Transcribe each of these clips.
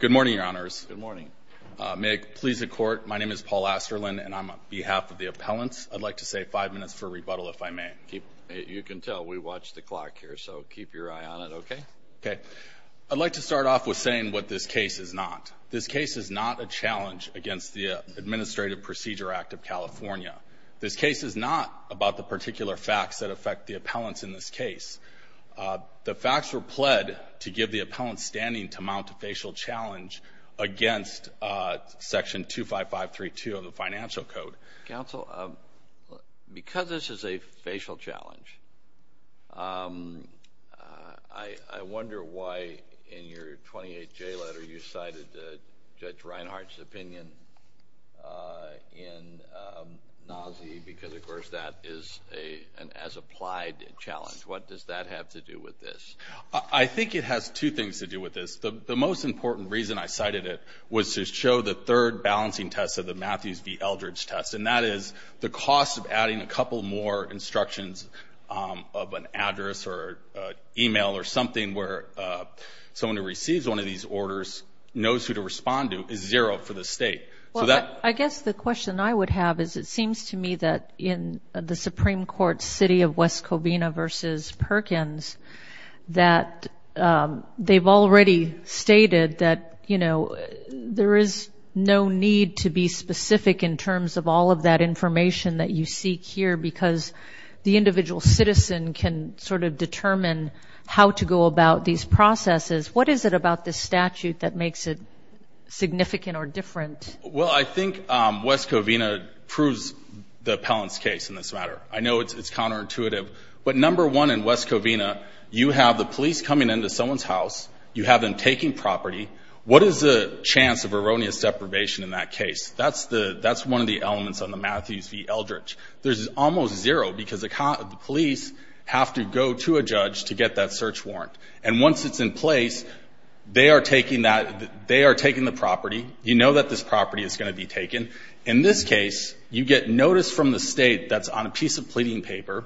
Good morning, your honors. Good morning. May it please the court, my name is Paul Asterlin, and I'm on behalf of the appellants. I'd like to say five minutes for rebuttal, if I may. You can tell we watch the clock here, so keep your eye on it, okay? Okay. I'd like to start off with saying what this case is not. This case is not a challenge against the Administrative Procedure Act of California. This case is not about the particular facts that affect the appellants in this case. The facts were pled to give the appellants standing to mount a facial challenge against Section 25532 of the Financial Code. Counsel, because this is a facial challenge, I wonder why in your 28-J letter you cited Judge Reinhart's opinion in Nauzi because, of course, that is an as-applied challenge. What does that have to do with this? I think it has two things to do with this. The most important reason I cited it was to show the third balancing test of the Matthews v. Eldridge test, and that is the cost of adding a couple more instructions of an address or email or something where someone who receives one of these orders knows who to respond to is zero for the state. I guess the question I would have is it seems to me that in the Supreme Court's city of West Covina v. Perkins that they've already stated that there is no need to be specific in terms of all of that information that you seek here because the individual citizen can sort of determine how to go about these processes. What is it about this statute that makes it significant or different? Well, I think West Covina proves the appellant's case in this matter. I know it's counterintuitive, but number one in West Covina you have the police coming into someone's house, you have them taking property. What is the chance of erroneous deprivation in that case? That's one of the elements on the Matthews v. Eldridge. There's almost zero because the police have to go to a judge to get that search warrant. And once it's in place, they are taking the property. You know that this property is going to be taken. In this case, you get notice from the state that's on a piece of pleading paper.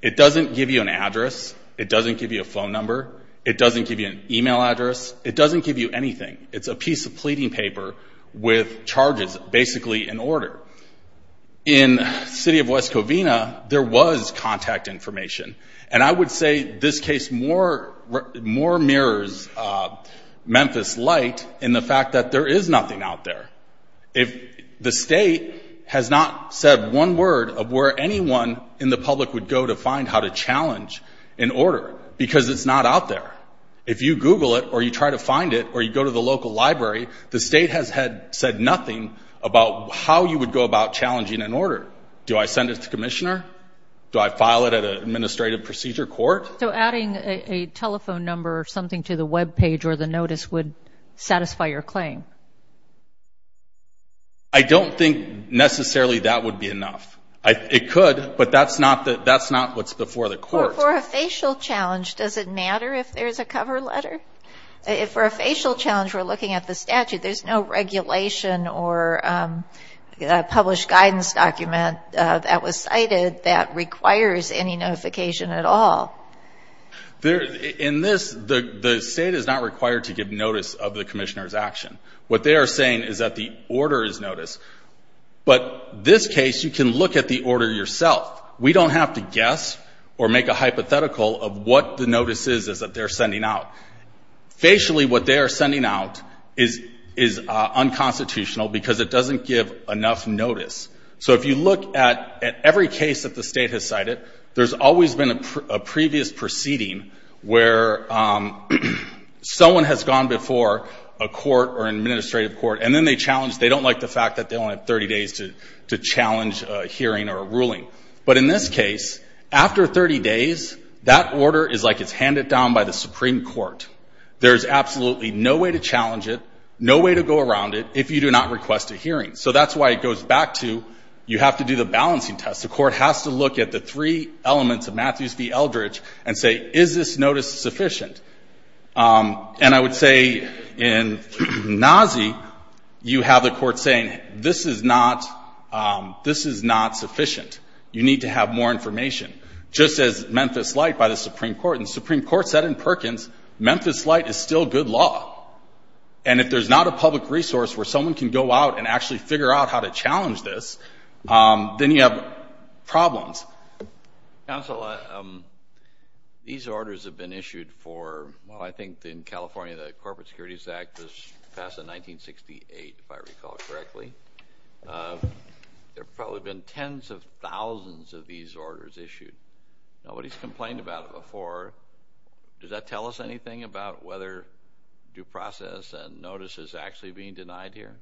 It doesn't give you an address. It doesn't give you a phone number. It doesn't give you an email address. It doesn't give you anything. It's a piece of pleading paper with charges basically in order. In the city of West Covina, there was contact information. And I would say this case more mirrors Memphis Light in the fact that there is nothing out there. The state has not said one word of where anyone in the public would go to find how to challenge an order because it's not out there. If you Google it or you try to find it or you go to the local library, the state has said nothing about how you would go about challenging an order. Do I send it to the commissioner? Do I file it at an administrative procedure court? So adding a telephone number or something to the Web page or the notice would satisfy your claim? I don't think necessarily that would be enough. It could, but that's not what's before the court. For a facial challenge, does it matter if there's a cover letter? For a facial challenge, we're looking at the statute. There's no regulation or published guidance document that was cited that requires any notification at all. In this, the state is not required to give notice of the commissioner's action. What they are saying is that the order is notice. But this case, you can look at the order yourself. We don't have to guess or make a hypothetical of what the notice is that they're sending out. Facially, what they are sending out is unconstitutional because it doesn't give enough notice. So if you look at every case that the state has cited, there's always been a previous proceeding where someone has gone before a court or an administrative court, and then they challenge. They don't like the fact that they only have 30 days to challenge a hearing or a ruling. But in this case, after 30 days, that order is like it's handed down by the Supreme Court. There's absolutely no way to challenge it, no way to go around it, if you do not request a hearing. So that's why it goes back to you have to do the balancing test. The court has to look at the three elements of Matthews v. Eldridge and say, is this notice sufficient? And I would say in Nazi, you have the court saying, this is not sufficient. You need to have more information, just as Memphis Light by the Supreme Court. And the Supreme Court said in Perkins, Memphis Light is still good law. And if there's not a public resource where someone can go out and actually figure out how to challenge this, then you have problems. Counsel, these orders have been issued for, well, I think in California, the Corporate Securities Act was passed in 1968, if I recall correctly. There have probably been tens of thousands of these orders issued. Nobody has complained about it before. Does that tell us anything about whether due process and notice is actually being denied here?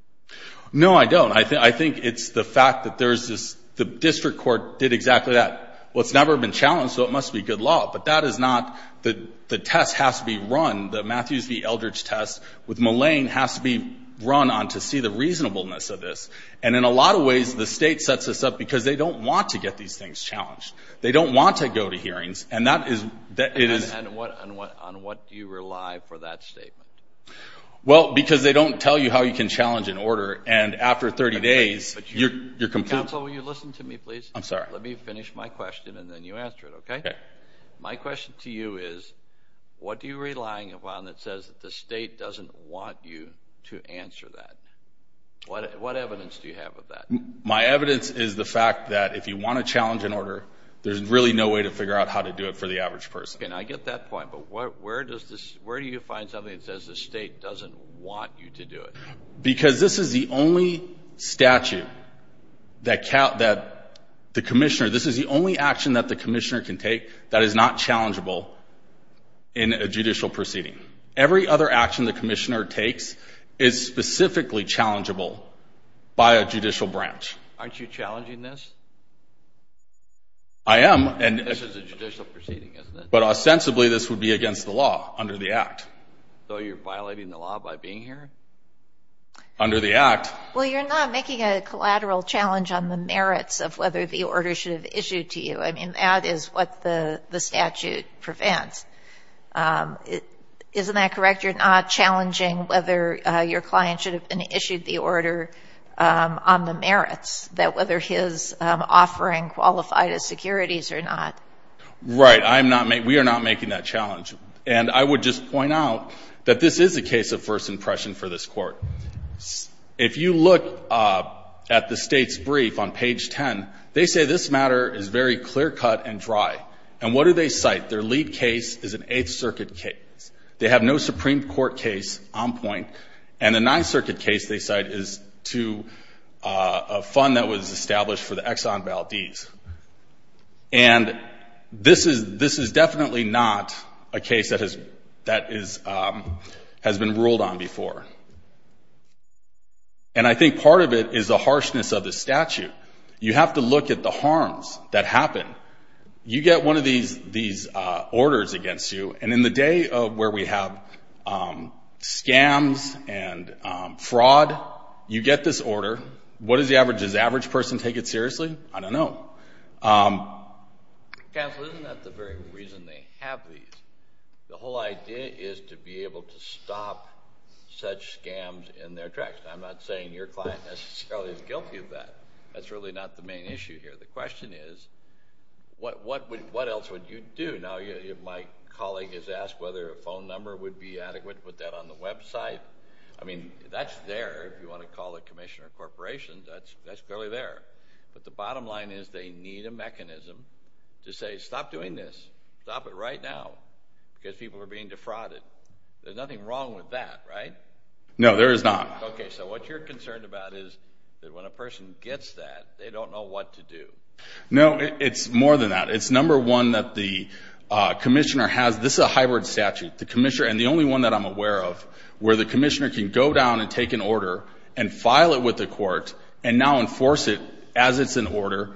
No, I don't. I think it's the fact that there's this, the district court did exactly that. Well, it's never been challenged, so it must be good law. But that is not, the test has to be run. The Matthews v. Eldridge test with Mullane has to be run on to see the reasonableness of this. And in a lot of ways, the state sets this up because they don't want to get these things challenged. They don't want to go to hearings. And that is, it is. And on what do you rely for that statement? Well, because they don't tell you how you can challenge an order. And after 30 days, you're complete. Counsel, will you listen to me, please? I'm sorry. Let me finish my question, and then you answer it, okay? Okay. My question to you is, what are you relying upon that says the state doesn't want you to answer that? What evidence do you have of that? My evidence is the fact that if you want to challenge an order, there's really no way to figure out how to do it for the average person. Okay, and I get that point. But where do you find something that says the state doesn't want you to do it? Because this is the only statute that the commissioner, this is the only action that the commissioner can take that is not challengeable in a judicial proceeding. Every other action the commissioner takes is specifically challengeable by a judicial branch. Aren't you challenging this? I am. This is a judicial proceeding, isn't it? But ostensibly, this would be against the law under the Act. So you're violating the law by being here? Under the Act. Well, you're not making a collateral challenge on the merits of whether the order should have issued to you. I mean, that is what the statute prevents. Isn't that correct? You're not challenging whether your client should have issued the order on the merits, that whether his offering qualified as securities or not. Right. We are not making that challenge. And I would just point out that this is a case of first impression for this Court. If you look at the state's brief on page 10, they say this matter is very clear-cut and dry. And what do they cite? Their lead case is an Eighth Circuit case. They have no Supreme Court case on point. And the Ninth Circuit case they cite is to a fund that was established for the Exxon Valdez. And this is definitely not a case that has been ruled on before. And I think part of it is the harshness of the statute. You have to look at the harms that happen. You get one of these orders against you, and in the day where we have scams and fraud, you get this order. What is the average? Does the average person take it seriously? I don't know. Counsel, isn't that the very reason they have these? The whole idea is to be able to stop such scams in their tracks. I'm not saying your client necessarily is guilty of that. That's really not the main issue here. The question is, what else would you do? Now, my colleague has asked whether a phone number would be adequate. Put that on the website. I mean, that's there. If you want to call a commission or a corporation, that's clearly there. But the bottom line is they need a mechanism to say, stop doing this. Stop it right now because people are being defrauded. There's nothing wrong with that, right? No, there is not. Okay, so what you're concerned about is that when a person gets that, they don't know what to do. No, it's more than that. It's, number one, that the commissioner has this hybrid statute, and the only one that I'm aware of where the commissioner can go down and take an order and file it with the court and now enforce it as it's in order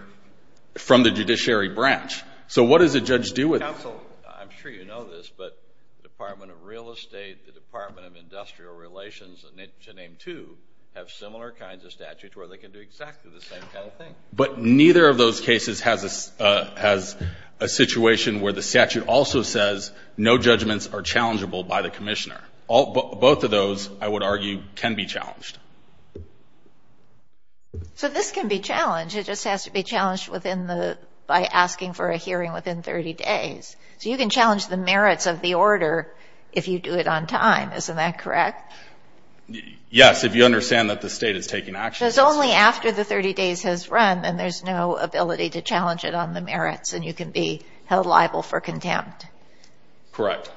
from the judiciary branch. So what does a judge do with it? Counsel, I'm sure you know this, but the Department of Real Estate, the Department of Industrial Relations, to name two, have similar kinds of statutes where they can do exactly the same kind of thing. But neither of those cases has a situation where the statute also says no judgments are challengeable by the commissioner. Both of those, I would argue, can be challenged. So this can be challenged. It just has to be challenged by asking for a hearing within 30 days. So you can challenge the merits of the order if you do it on time. Isn't that correct? Yes, if you understand that the state is taking action. Because only after the 30 days has run, then there's no ability to challenge it on the merits, and you can be held liable for contempt. Correct.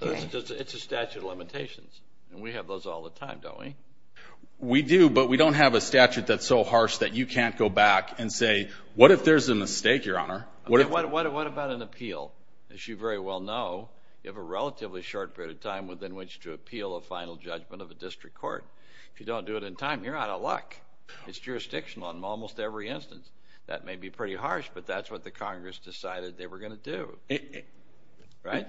It's a statute of limitations, and we have those all the time, don't we? We do, but we don't have a statute that's so harsh that you can't go back and say, what if there's a mistake, Your Honor? What about an appeal? As you very well know, you have a relatively short period of time within which to appeal a final judgment of a district court. If you don't do it in time, you're out of luck. It's jurisdictional in almost every instance. That may be pretty harsh, but that's what the Congress decided they were going to do. Right?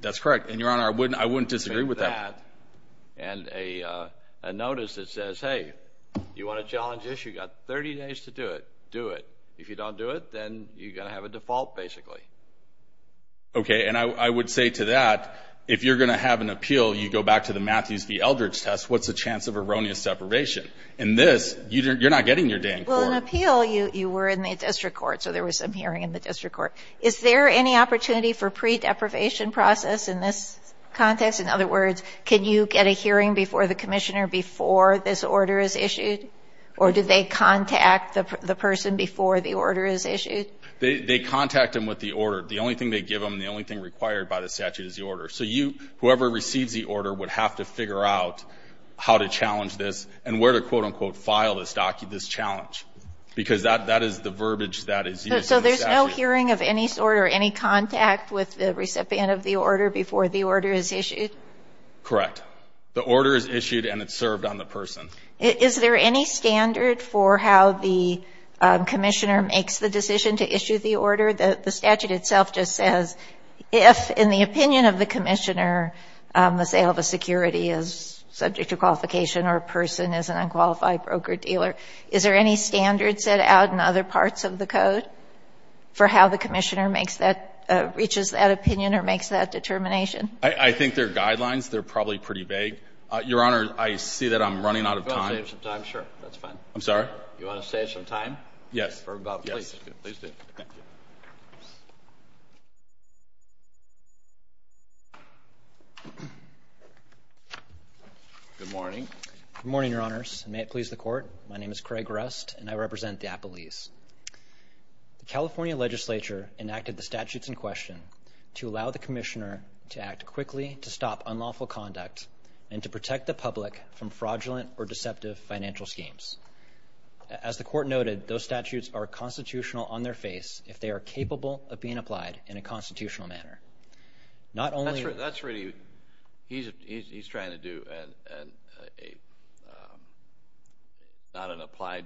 That's correct. And, Your Honor, I wouldn't disagree with that. And a notice that says, hey, you want to challenge this? You've got 30 days to do it. Do it. If you don't do it, then you're going to have a default, basically. Okay. And I would say to that, if you're going to have an appeal, you go back to the Matthews v. Eldridge test. What's the chance of erroneous deprivation? In this, you're not getting your dang court. Well, in an appeal, you were in the district court, so there was some hearing in the district court. Is there any opportunity for pre-deprivation process in this context? In other words, can you get a hearing before the commissioner before this order is issued? Or do they contact the person before the order is issued? They contact them with the order. The only thing they give them, the only thing required by the statute is the order. So whoever receives the order would have to figure out how to challenge this and where to, quote, unquote, file this challenge, because that is the verbiage that is used in the statute. So there's no hearing of any sort or any contact with the recipient of the order before the order is issued? Correct. The order is issued, and it's served on the person. Is there any standard for how the commissioner makes the decision to issue the order? The statute itself just says if, in the opinion of the commissioner, let's say if a security is subject to qualification or a person is an unqualified broker-dealer, is there any standard set out in other parts of the code for how the commissioner reaches that opinion or makes that determination? I think there are guidelines. They're probably pretty vague. Your Honor, I see that I'm running out of time. You want to save some time? Sure, that's fine. I'm sorry? You want to save some time? Yes. Yes. Please do. Thank you. Thank you. Good morning. Good morning, Your Honors, and may it please the Court. My name is Craig Rust, and I represent the Appalese. The California legislature enacted the statutes in question to allow the commissioner to act quickly to stop unlawful conduct and to protect the public from fraudulent or deceptive financial schemes. As the Court noted, those statutes are constitutional on their face if they are capable of being applied in a constitutional manner. He's trying to do not an applied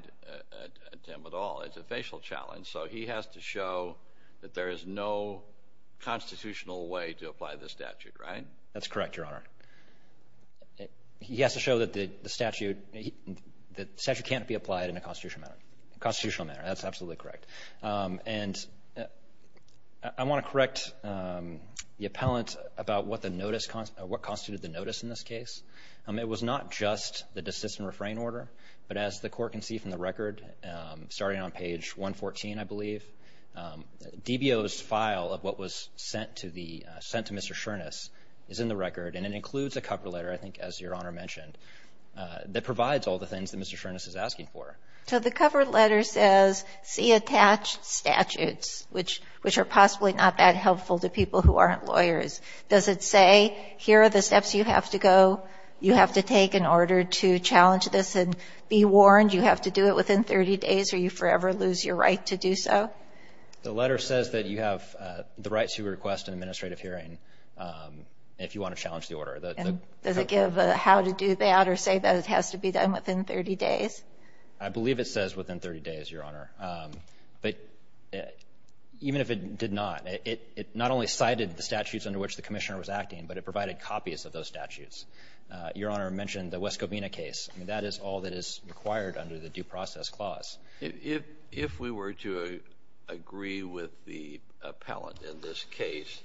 attempt at all. It's a facial challenge. So he has to show that there is no constitutional way to apply the statute, right? That's correct, Your Honor. He has to show that the statute can't be applied in a constitutional manner. That's absolutely correct. And I want to correct the appellant about what constituted the notice in this case. It was not just the desist and refrain order, but as the Court can see from the record starting on page 114, I believe, DBO's file of what was sent to Mr. Shurness is in the record, and it includes a cover letter, I think, as Your Honor mentioned, that provides all the things that Mr. Shurness is asking for. So the cover letter says, see attached statutes, which are possibly not that helpful to people who aren't lawyers. Does it say, here are the steps you have to go, you have to take in order to challenge this and be warned, you have to do it within 30 days or you forever lose your right to do so? The letter says that you have the right to request an administrative hearing if you want to challenge the order. Does it give a how to do that or say that it has to be done within 30 days? I believe it says within 30 days, Your Honor. But even if it did not, it not only cited the statutes under which the commissioner was acting, but it provided copies of those statutes. Your Honor mentioned the West Covina case. That is all that is required under the due process clause. If we were to agree with the appellant in this case,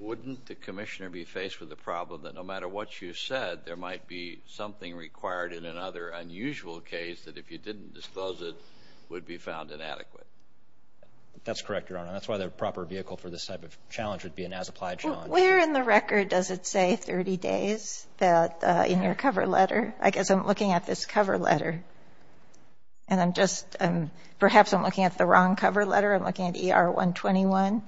wouldn't the commissioner be faced with the problem that no matter what you said, there might be something required in another unusual case that, if you didn't disclose it, would be found inadequate? That's correct, Your Honor. That's why the proper vehicle for this type of challenge would be an as-applied challenge. But where in the record does it say 30 days in your cover letter? I guess I'm looking at this cover letter. And I'm just – perhaps I'm looking at the wrong cover letter. I'm looking at ER-121.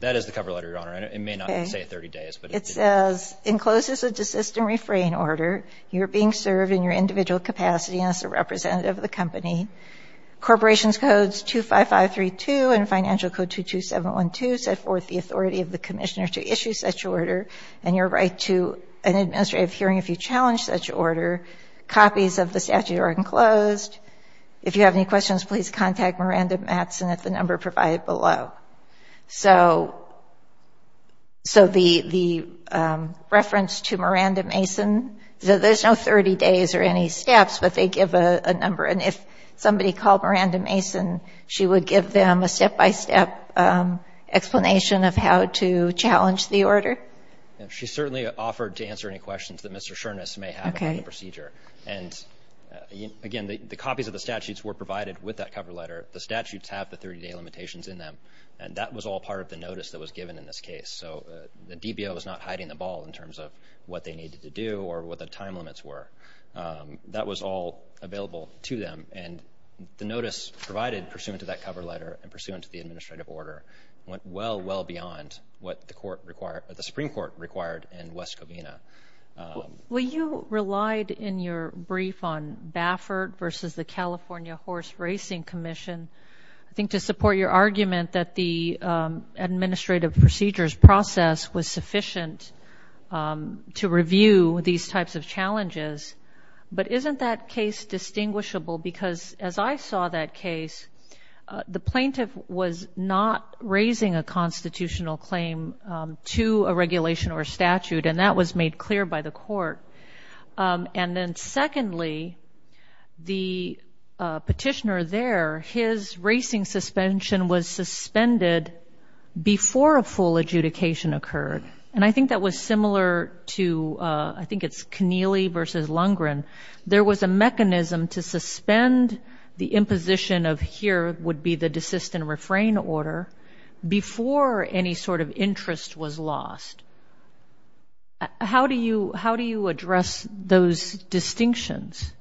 That is the cover letter, Your Honor. It may not say 30 days, but it did. It says, encloses a desist and refrain order. You are being served in your individual capacity as a representative of the company. Corporations Codes 25532 and Financial Code 22712 set forth the authority of the commissioner to issue such order and your right to an administrative hearing if you challenge such order. Copies of the statute are enclosed. If you have any questions, please contact Miranda Matson at the number provided below. So the reference to Miranda Mason, there's no 30 days or any steps, but they give a number. And if somebody called Miranda Mason, she would give them a step-by-step explanation of how to challenge the order? She certainly offered to answer any questions that Mr. Shurness may have about the procedure. And, again, the copies of the statutes were provided with that cover letter. The statutes have the 30-day limitations in them, and that was all part of the notice that was given in this case. So the DBO was not hiding the ball in terms of what they needed to do or what the time limits were. That was all available to them. And the notice provided pursuant to that cover letter and pursuant to the administrative order went well, well beyond what the Supreme Court required in West Covina. Well, you relied in your brief on Baffert versus the California Horse Racing Commission. I think to support your argument that the administrative procedures process was sufficient to review these types of challenges, but isn't that case distinguishable? Because as I saw that case, the plaintiff was not raising a constitutional claim to a regulation or statute, and that was made clear by the court. And then, secondly, the petitioner there, his racing suspension was suspended before a full adjudication occurred. And I think that was similar to, I think it's Keneally versus Lundgren. There was a mechanism to suspend the imposition of here would be the desist and refrain order before any sort of interest was lost. How do you address those distinctions?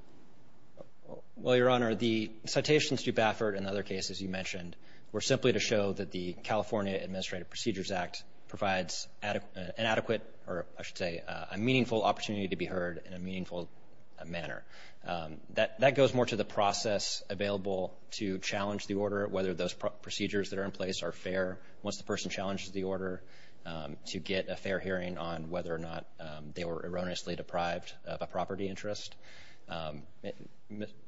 Well, Your Honor, the citations to Baffert and other cases you mentioned were simply to show that the California Administrative Procedures Act provides an adequate, or I should say, a meaningful opportunity to be heard in a meaningful manner. That goes more to the process available to challenge the order, whether those procedures that are in place are fair. Once the person challenges the order to get a fair hearing on whether or not they were erroneously deprived of a property interest,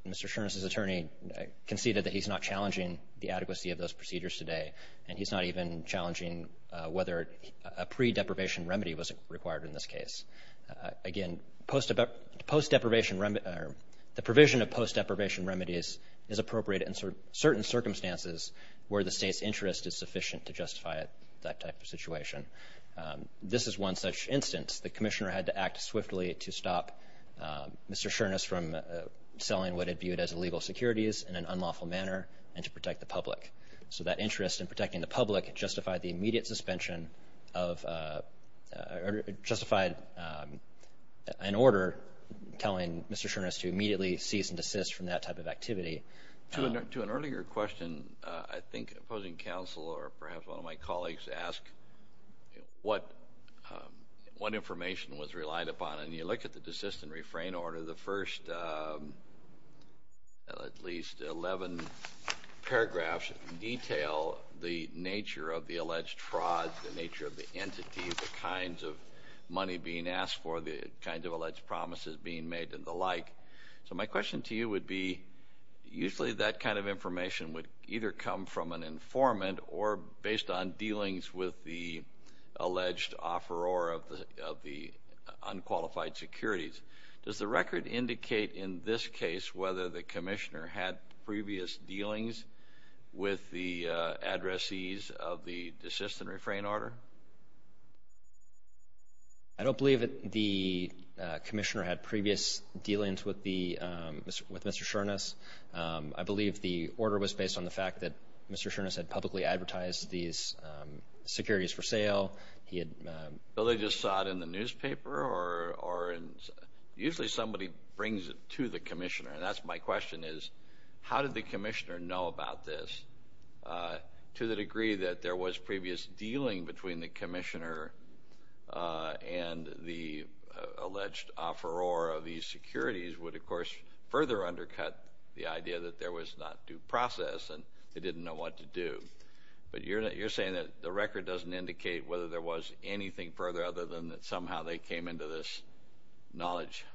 Mr. Sherness's attorney conceded that he's not challenging the adequacy of those procedures today, and he's not even challenging whether a pre-deprivation remedy was required in this case. Again, the provision of post-deprivation remedies is appropriate in certain circumstances where the state's interest is sufficient to justify that type of situation. This is one such instance. The commissioner had to act swiftly to stop Mr. Sherness from selling what he viewed as illegal securities in an unlawful manner and to protect the public. So that interest in protecting the public justified an order telling Mr. Sherness to immediately cease and desist from that type of activity. To an earlier question, I think opposing counsel or perhaps one of my colleagues asked what information was relied upon, and you look at the desist and refrain order, the first at least 11 paragraphs detail the nature of the alleged fraud, the nature of the entity, the kinds of money being asked for, the kinds of alleged promises being made, and the like. So my question to you would be usually that kind of information would either come from an informant or based on dealings with the alleged offeror of the unqualified securities. Does the record indicate in this case whether the commissioner had previous dealings with the addressees of the desist and refrain order? I don't believe that the commissioner had previous dealings with Mr. Sherness. I believe the order was based on the fact that Mr. Sherness had publicly advertised these securities for sale. So they just saw it in the newspaper? Usually somebody brings it to the commissioner, and that's my question is how did the commissioner know about this to the degree that there was previous dealing between the commissioner and the alleged offeror of these securities would, of course, further undercut the idea that there was not due process and they didn't know what to do. But you're saying that the record doesn't indicate whether there was anything further other than that somehow they came into this knowledge.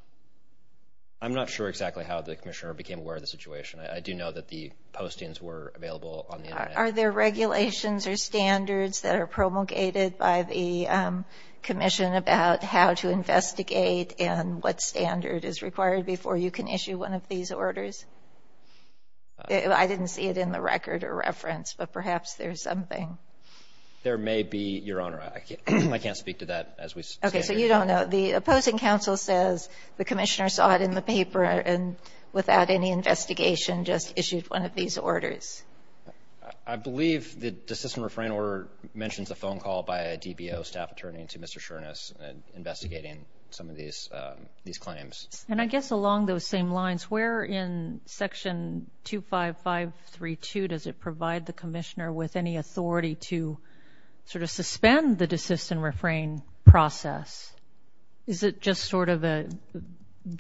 I'm not sure exactly how the commissioner became aware of the situation. I do know that the postings were available on the Internet. Are there regulations or standards that are promulgated by the commission about how to investigate and what standard is required before you can issue one of these orders? I didn't see it in the record or reference, but perhaps there's something. There may be, Your Honor. I can't speak to that as we stand here. Okay, so you don't know. The opposing counsel says the commissioner saw it in the paper and without any investigation just issued one of these orders. I believe the desist and refrain order mentions a phone call by a DBO staff attorney to Mr. Shurness investigating some of these claims. And I guess along those same lines, where in Section 25532 does it provide the commissioner with any authority to sort of suspend the desist and refrain process? Is it just sort of a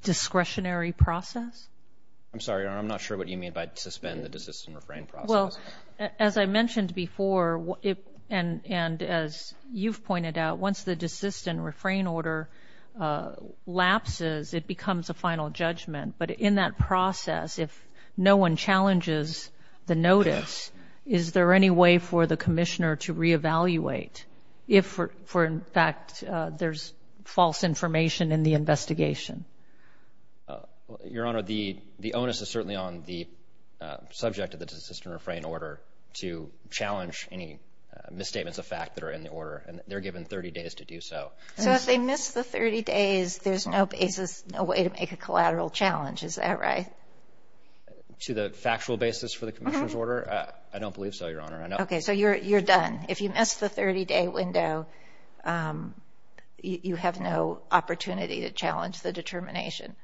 discretionary process? I'm sorry, Your Honor. I'm not sure what you mean by suspend the desist and refrain process. Well, as I mentioned before and as you've pointed out, once the desist and refrain order lapses, it becomes a final judgment. But in that process, if no one challenges the notice, is there any way for the commissioner to reevaluate if, in fact, there's false information in the investigation? Your Honor, the onus is certainly on the subject of the desist and refrain order to challenge any misstatements of fact that are in the order, and they're given 30 days to do so. So if they miss the 30 days, there's no basis, no way to make a collateral challenge. Is that right? To the factual basis for the commissioner's order? I don't believe so, Your Honor. Okay. So you're done. If you miss the 30-day window, you have no opportunity to challenge the determination.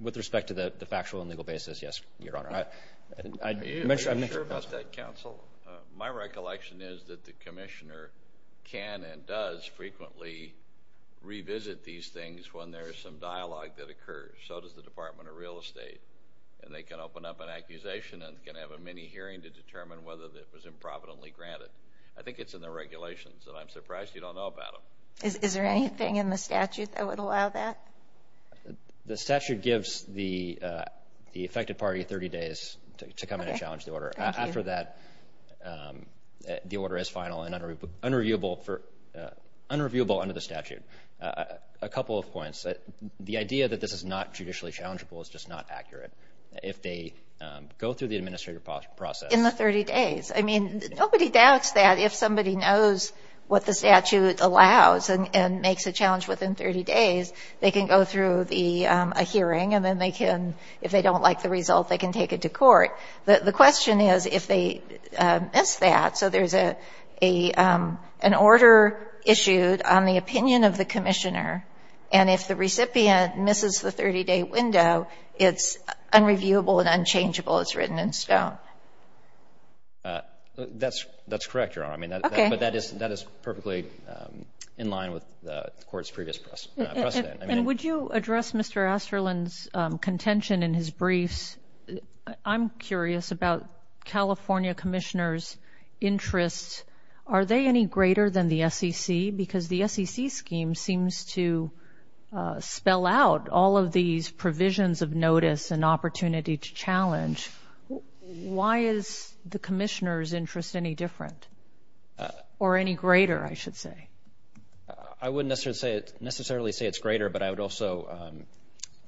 With respect to the factual and legal basis, yes, Your Honor. Are you sure about that, counsel? My recollection is that the commissioner can and does frequently revisit these things when there is some dialogue that occurs. So does the Department of Real Estate, and they can open up an accusation and can have a mini hearing to determine whether it was improvidently granted. I think it's in the regulations, and I'm surprised you don't know about them. Is there anything in the statute that would allow that? The statute gives the affected party 30 days to come in and challenge the order. After that, the order is final and unreviewable under the statute. A couple of points. The idea that this is not judicially challengeable is just not accurate. If they go through the administrative process. In the 30 days. I mean, nobody doubts that. If somebody knows what the statute allows and makes a challenge within 30 days, they can go through a hearing, and then if they don't like the result, they can take it to court. The question is if they miss that. So there's an order issued on the opinion of the commissioner, and if the recipient misses the 30-day window, it's unreviewable and unchangeable. It's written in stone. That's correct, Your Honor. Okay. But that is perfectly in line with the Court's previous precedent. And would you address Mr. Asterland's contention in his briefs? I'm curious about California commissioners' interests. Are they any greater than the SEC? Because the SEC scheme seems to spell out all of these provisions of notice and opportunity to challenge. Why is the commissioner's interest any different? Or any greater, I should say. I wouldn't necessarily say it's greater, but I would also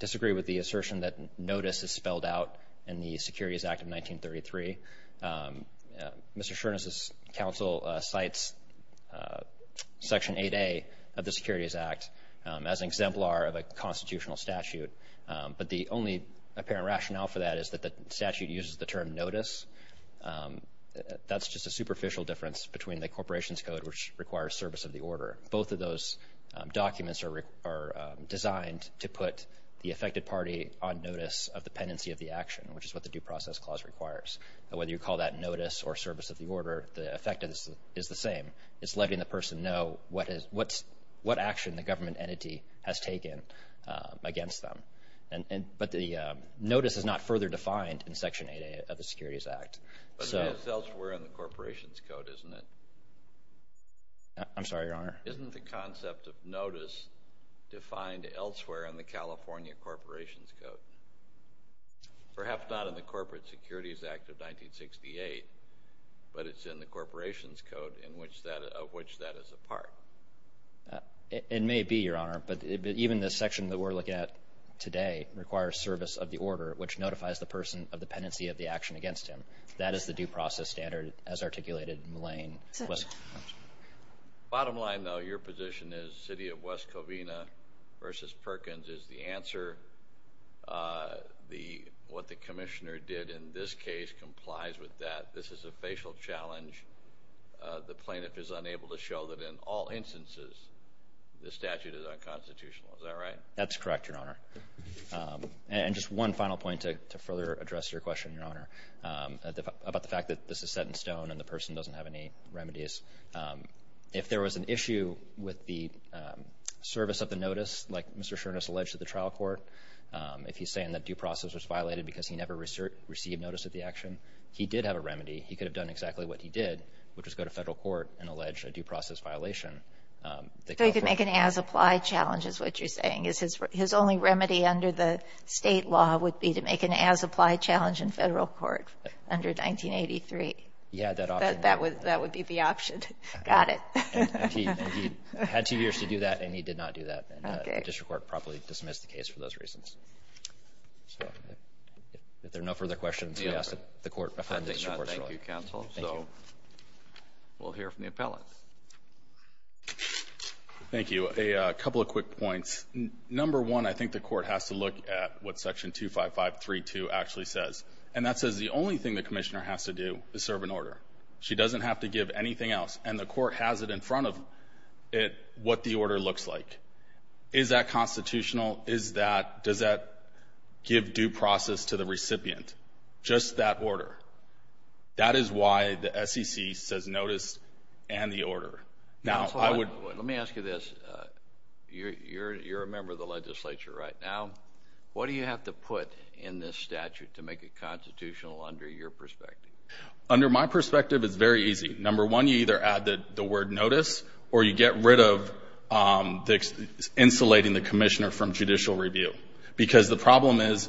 disagree with the assertion that notice is spelled out in the Securities Act of 1933. Mr. Shuren's counsel cites Section 8A of the Securities Act as an exemplar of a constitutional statute, but the only apparent rationale for that is that the statute uses the term notice. That's just a superficial difference between the corporation's code, which requires service of the order. Both of those documents are designed to put the affected party on notice of the pendency of the action, which is what the due process clause requires. Whether you call that notice or service of the order, the effect is the same. It's letting the person know what action the government entity has taken against them. But the notice is not further defined in Section 8A of the Securities Act. But it is elsewhere in the corporation's code, isn't it? I'm sorry, Your Honor. Isn't the concept of notice defined elsewhere in the California corporation's code? Perhaps not in the Corporate Securities Act of 1968, but it's in the corporation's code of which that is a part. It may be, Your Honor, but even the section that we're looking at today requires service of the order, which notifies the person of the pendency of the action against him. That is the due process standard as articulated in the lane. Bottom line, though, your position is the City of West Covina v. Perkins is the answer. What the commissioner did in this case complies with that. This is a facial challenge. The plaintiff is unable to show that in all instances the statute is unconstitutional. Is that right? That's correct, Your Honor. And just one final point to further address your question, Your Honor, about the fact that this is set in stone and the person doesn't have any remedies. If there was an issue with the service of the notice, like Mr. Shurness alleged to the trial court, if he's saying that due process was violated because he never received notice of the action, he did have a remedy. He could have done exactly what he did, which was go to federal court and allege a due process violation. So he could make an as-applied challenge is what you're saying. His only remedy under the state law would be to make an as-applied challenge in federal court under 1983. Yeah, that option. That would be the option. Got it. And he had two years to do that, and he did not do that. The district court properly dismissed the case for those reasons. If there are no further questions, we ask that the court affirm the district court's ruling. Thank you, counsel. So we'll hear from the appellant. Thank you. A couple of quick points. Number one, I think the court has to look at what Section 25532 actually says, and that says the only thing the commissioner has to do is serve an order. She doesn't have to give anything else, and the court has it in front of it what the order looks like. Is that constitutional? Does that give due process to the recipient? Just that order. That is why the SEC says notice and the order. Let me ask you this. You're a member of the legislature right now. What do you have to put in this statute to make it constitutional under your perspective? Under my perspective, it's very easy. Number one, you either add the word notice, or you get rid of insulating the commissioner from judicial review, because the problem is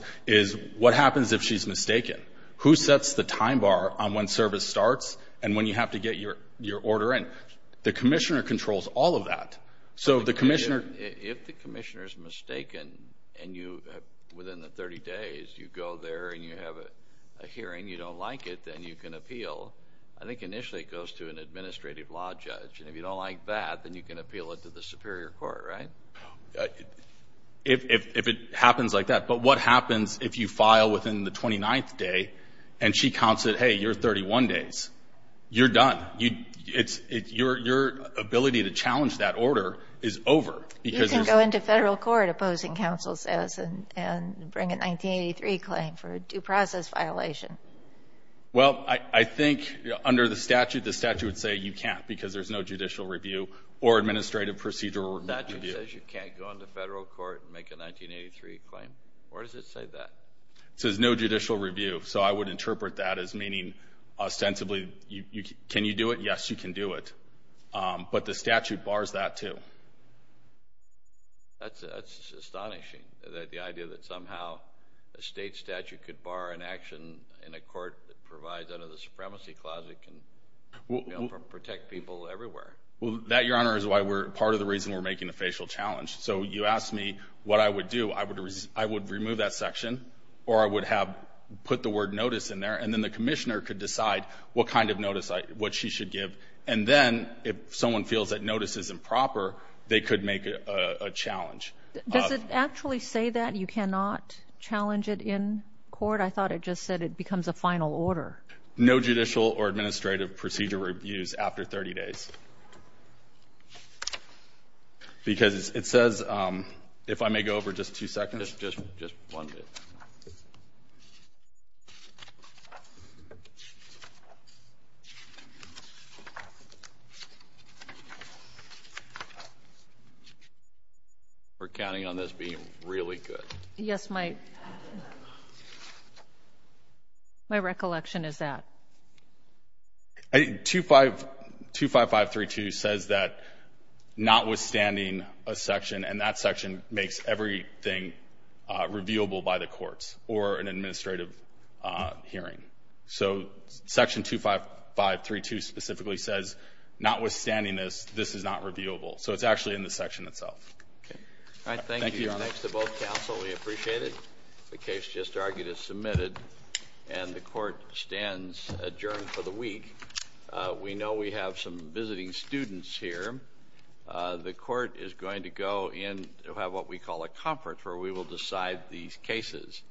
what happens if she's mistaken? Who sets the time bar on when service starts and when you have to get your order in? The commissioner controls all of that. If the commissioner is mistaken and you, within the 30 days, you go there and you have a hearing, you don't like it, then you can appeal. I think initially it goes to an administrative law judge, and if you don't like that, then you can appeal it to the superior court, right? If it happens like that. But what happens if you file within the 29th day, and she counts it, hey, you're 31 days? You're done. Your ability to challenge that order is over. You can go into federal court opposing counsel says and bring a 1983 claim for a due process violation. Well, I think under the statute, the statute would say you can't, because there's no judicial review or administrative procedure review. The statute says you can't go into federal court and make a 1983 claim? Or does it say that? It says no judicial review. So I would interpret that as meaning ostensibly can you do it? Yes, you can do it. But the statute bars that, too. That's astonishing, the idea that somehow a state statute could bar an action in a court that provides under the supremacy clause it can protect people everywhere. Well, that, Your Honor, is part of the reason we're making a facial challenge. So you asked me what I would do. I would remove that section, or I would put the word notice in there, and then the commissioner could decide what kind of notice she should give. And then if someone feels that notice is improper, they could make a challenge. Does it actually say that you cannot challenge it in court? I thought it just said it becomes a final order. No judicial or administrative procedure reviews after 30 days. Because it says, if I may go over just two seconds. Just one minute. We're counting on this being really good. Yes, my recollection is that. 25532 says that notwithstanding a section, and that section makes everything reviewable by the courts or an administrative hearing. So Section 25532 specifically says, notwithstanding this, this is not reviewable. So it's actually in the section itself. All right. Thank you. Thanks to both counsel. We appreciate it. The case just argued is submitted, and the court stands adjourned for the week. We know we have some visiting students here. The court is going to go and have what we call a conference where we will decide these cases.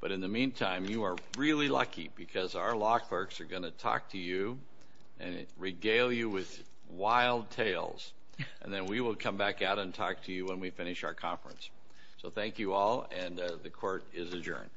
But in the meantime, you are really lucky, because our law clerks are going to talk to you and regale you with wild tales. And then we will come back out and talk to you when we finish our conference. So thank you all, and the court is adjourned.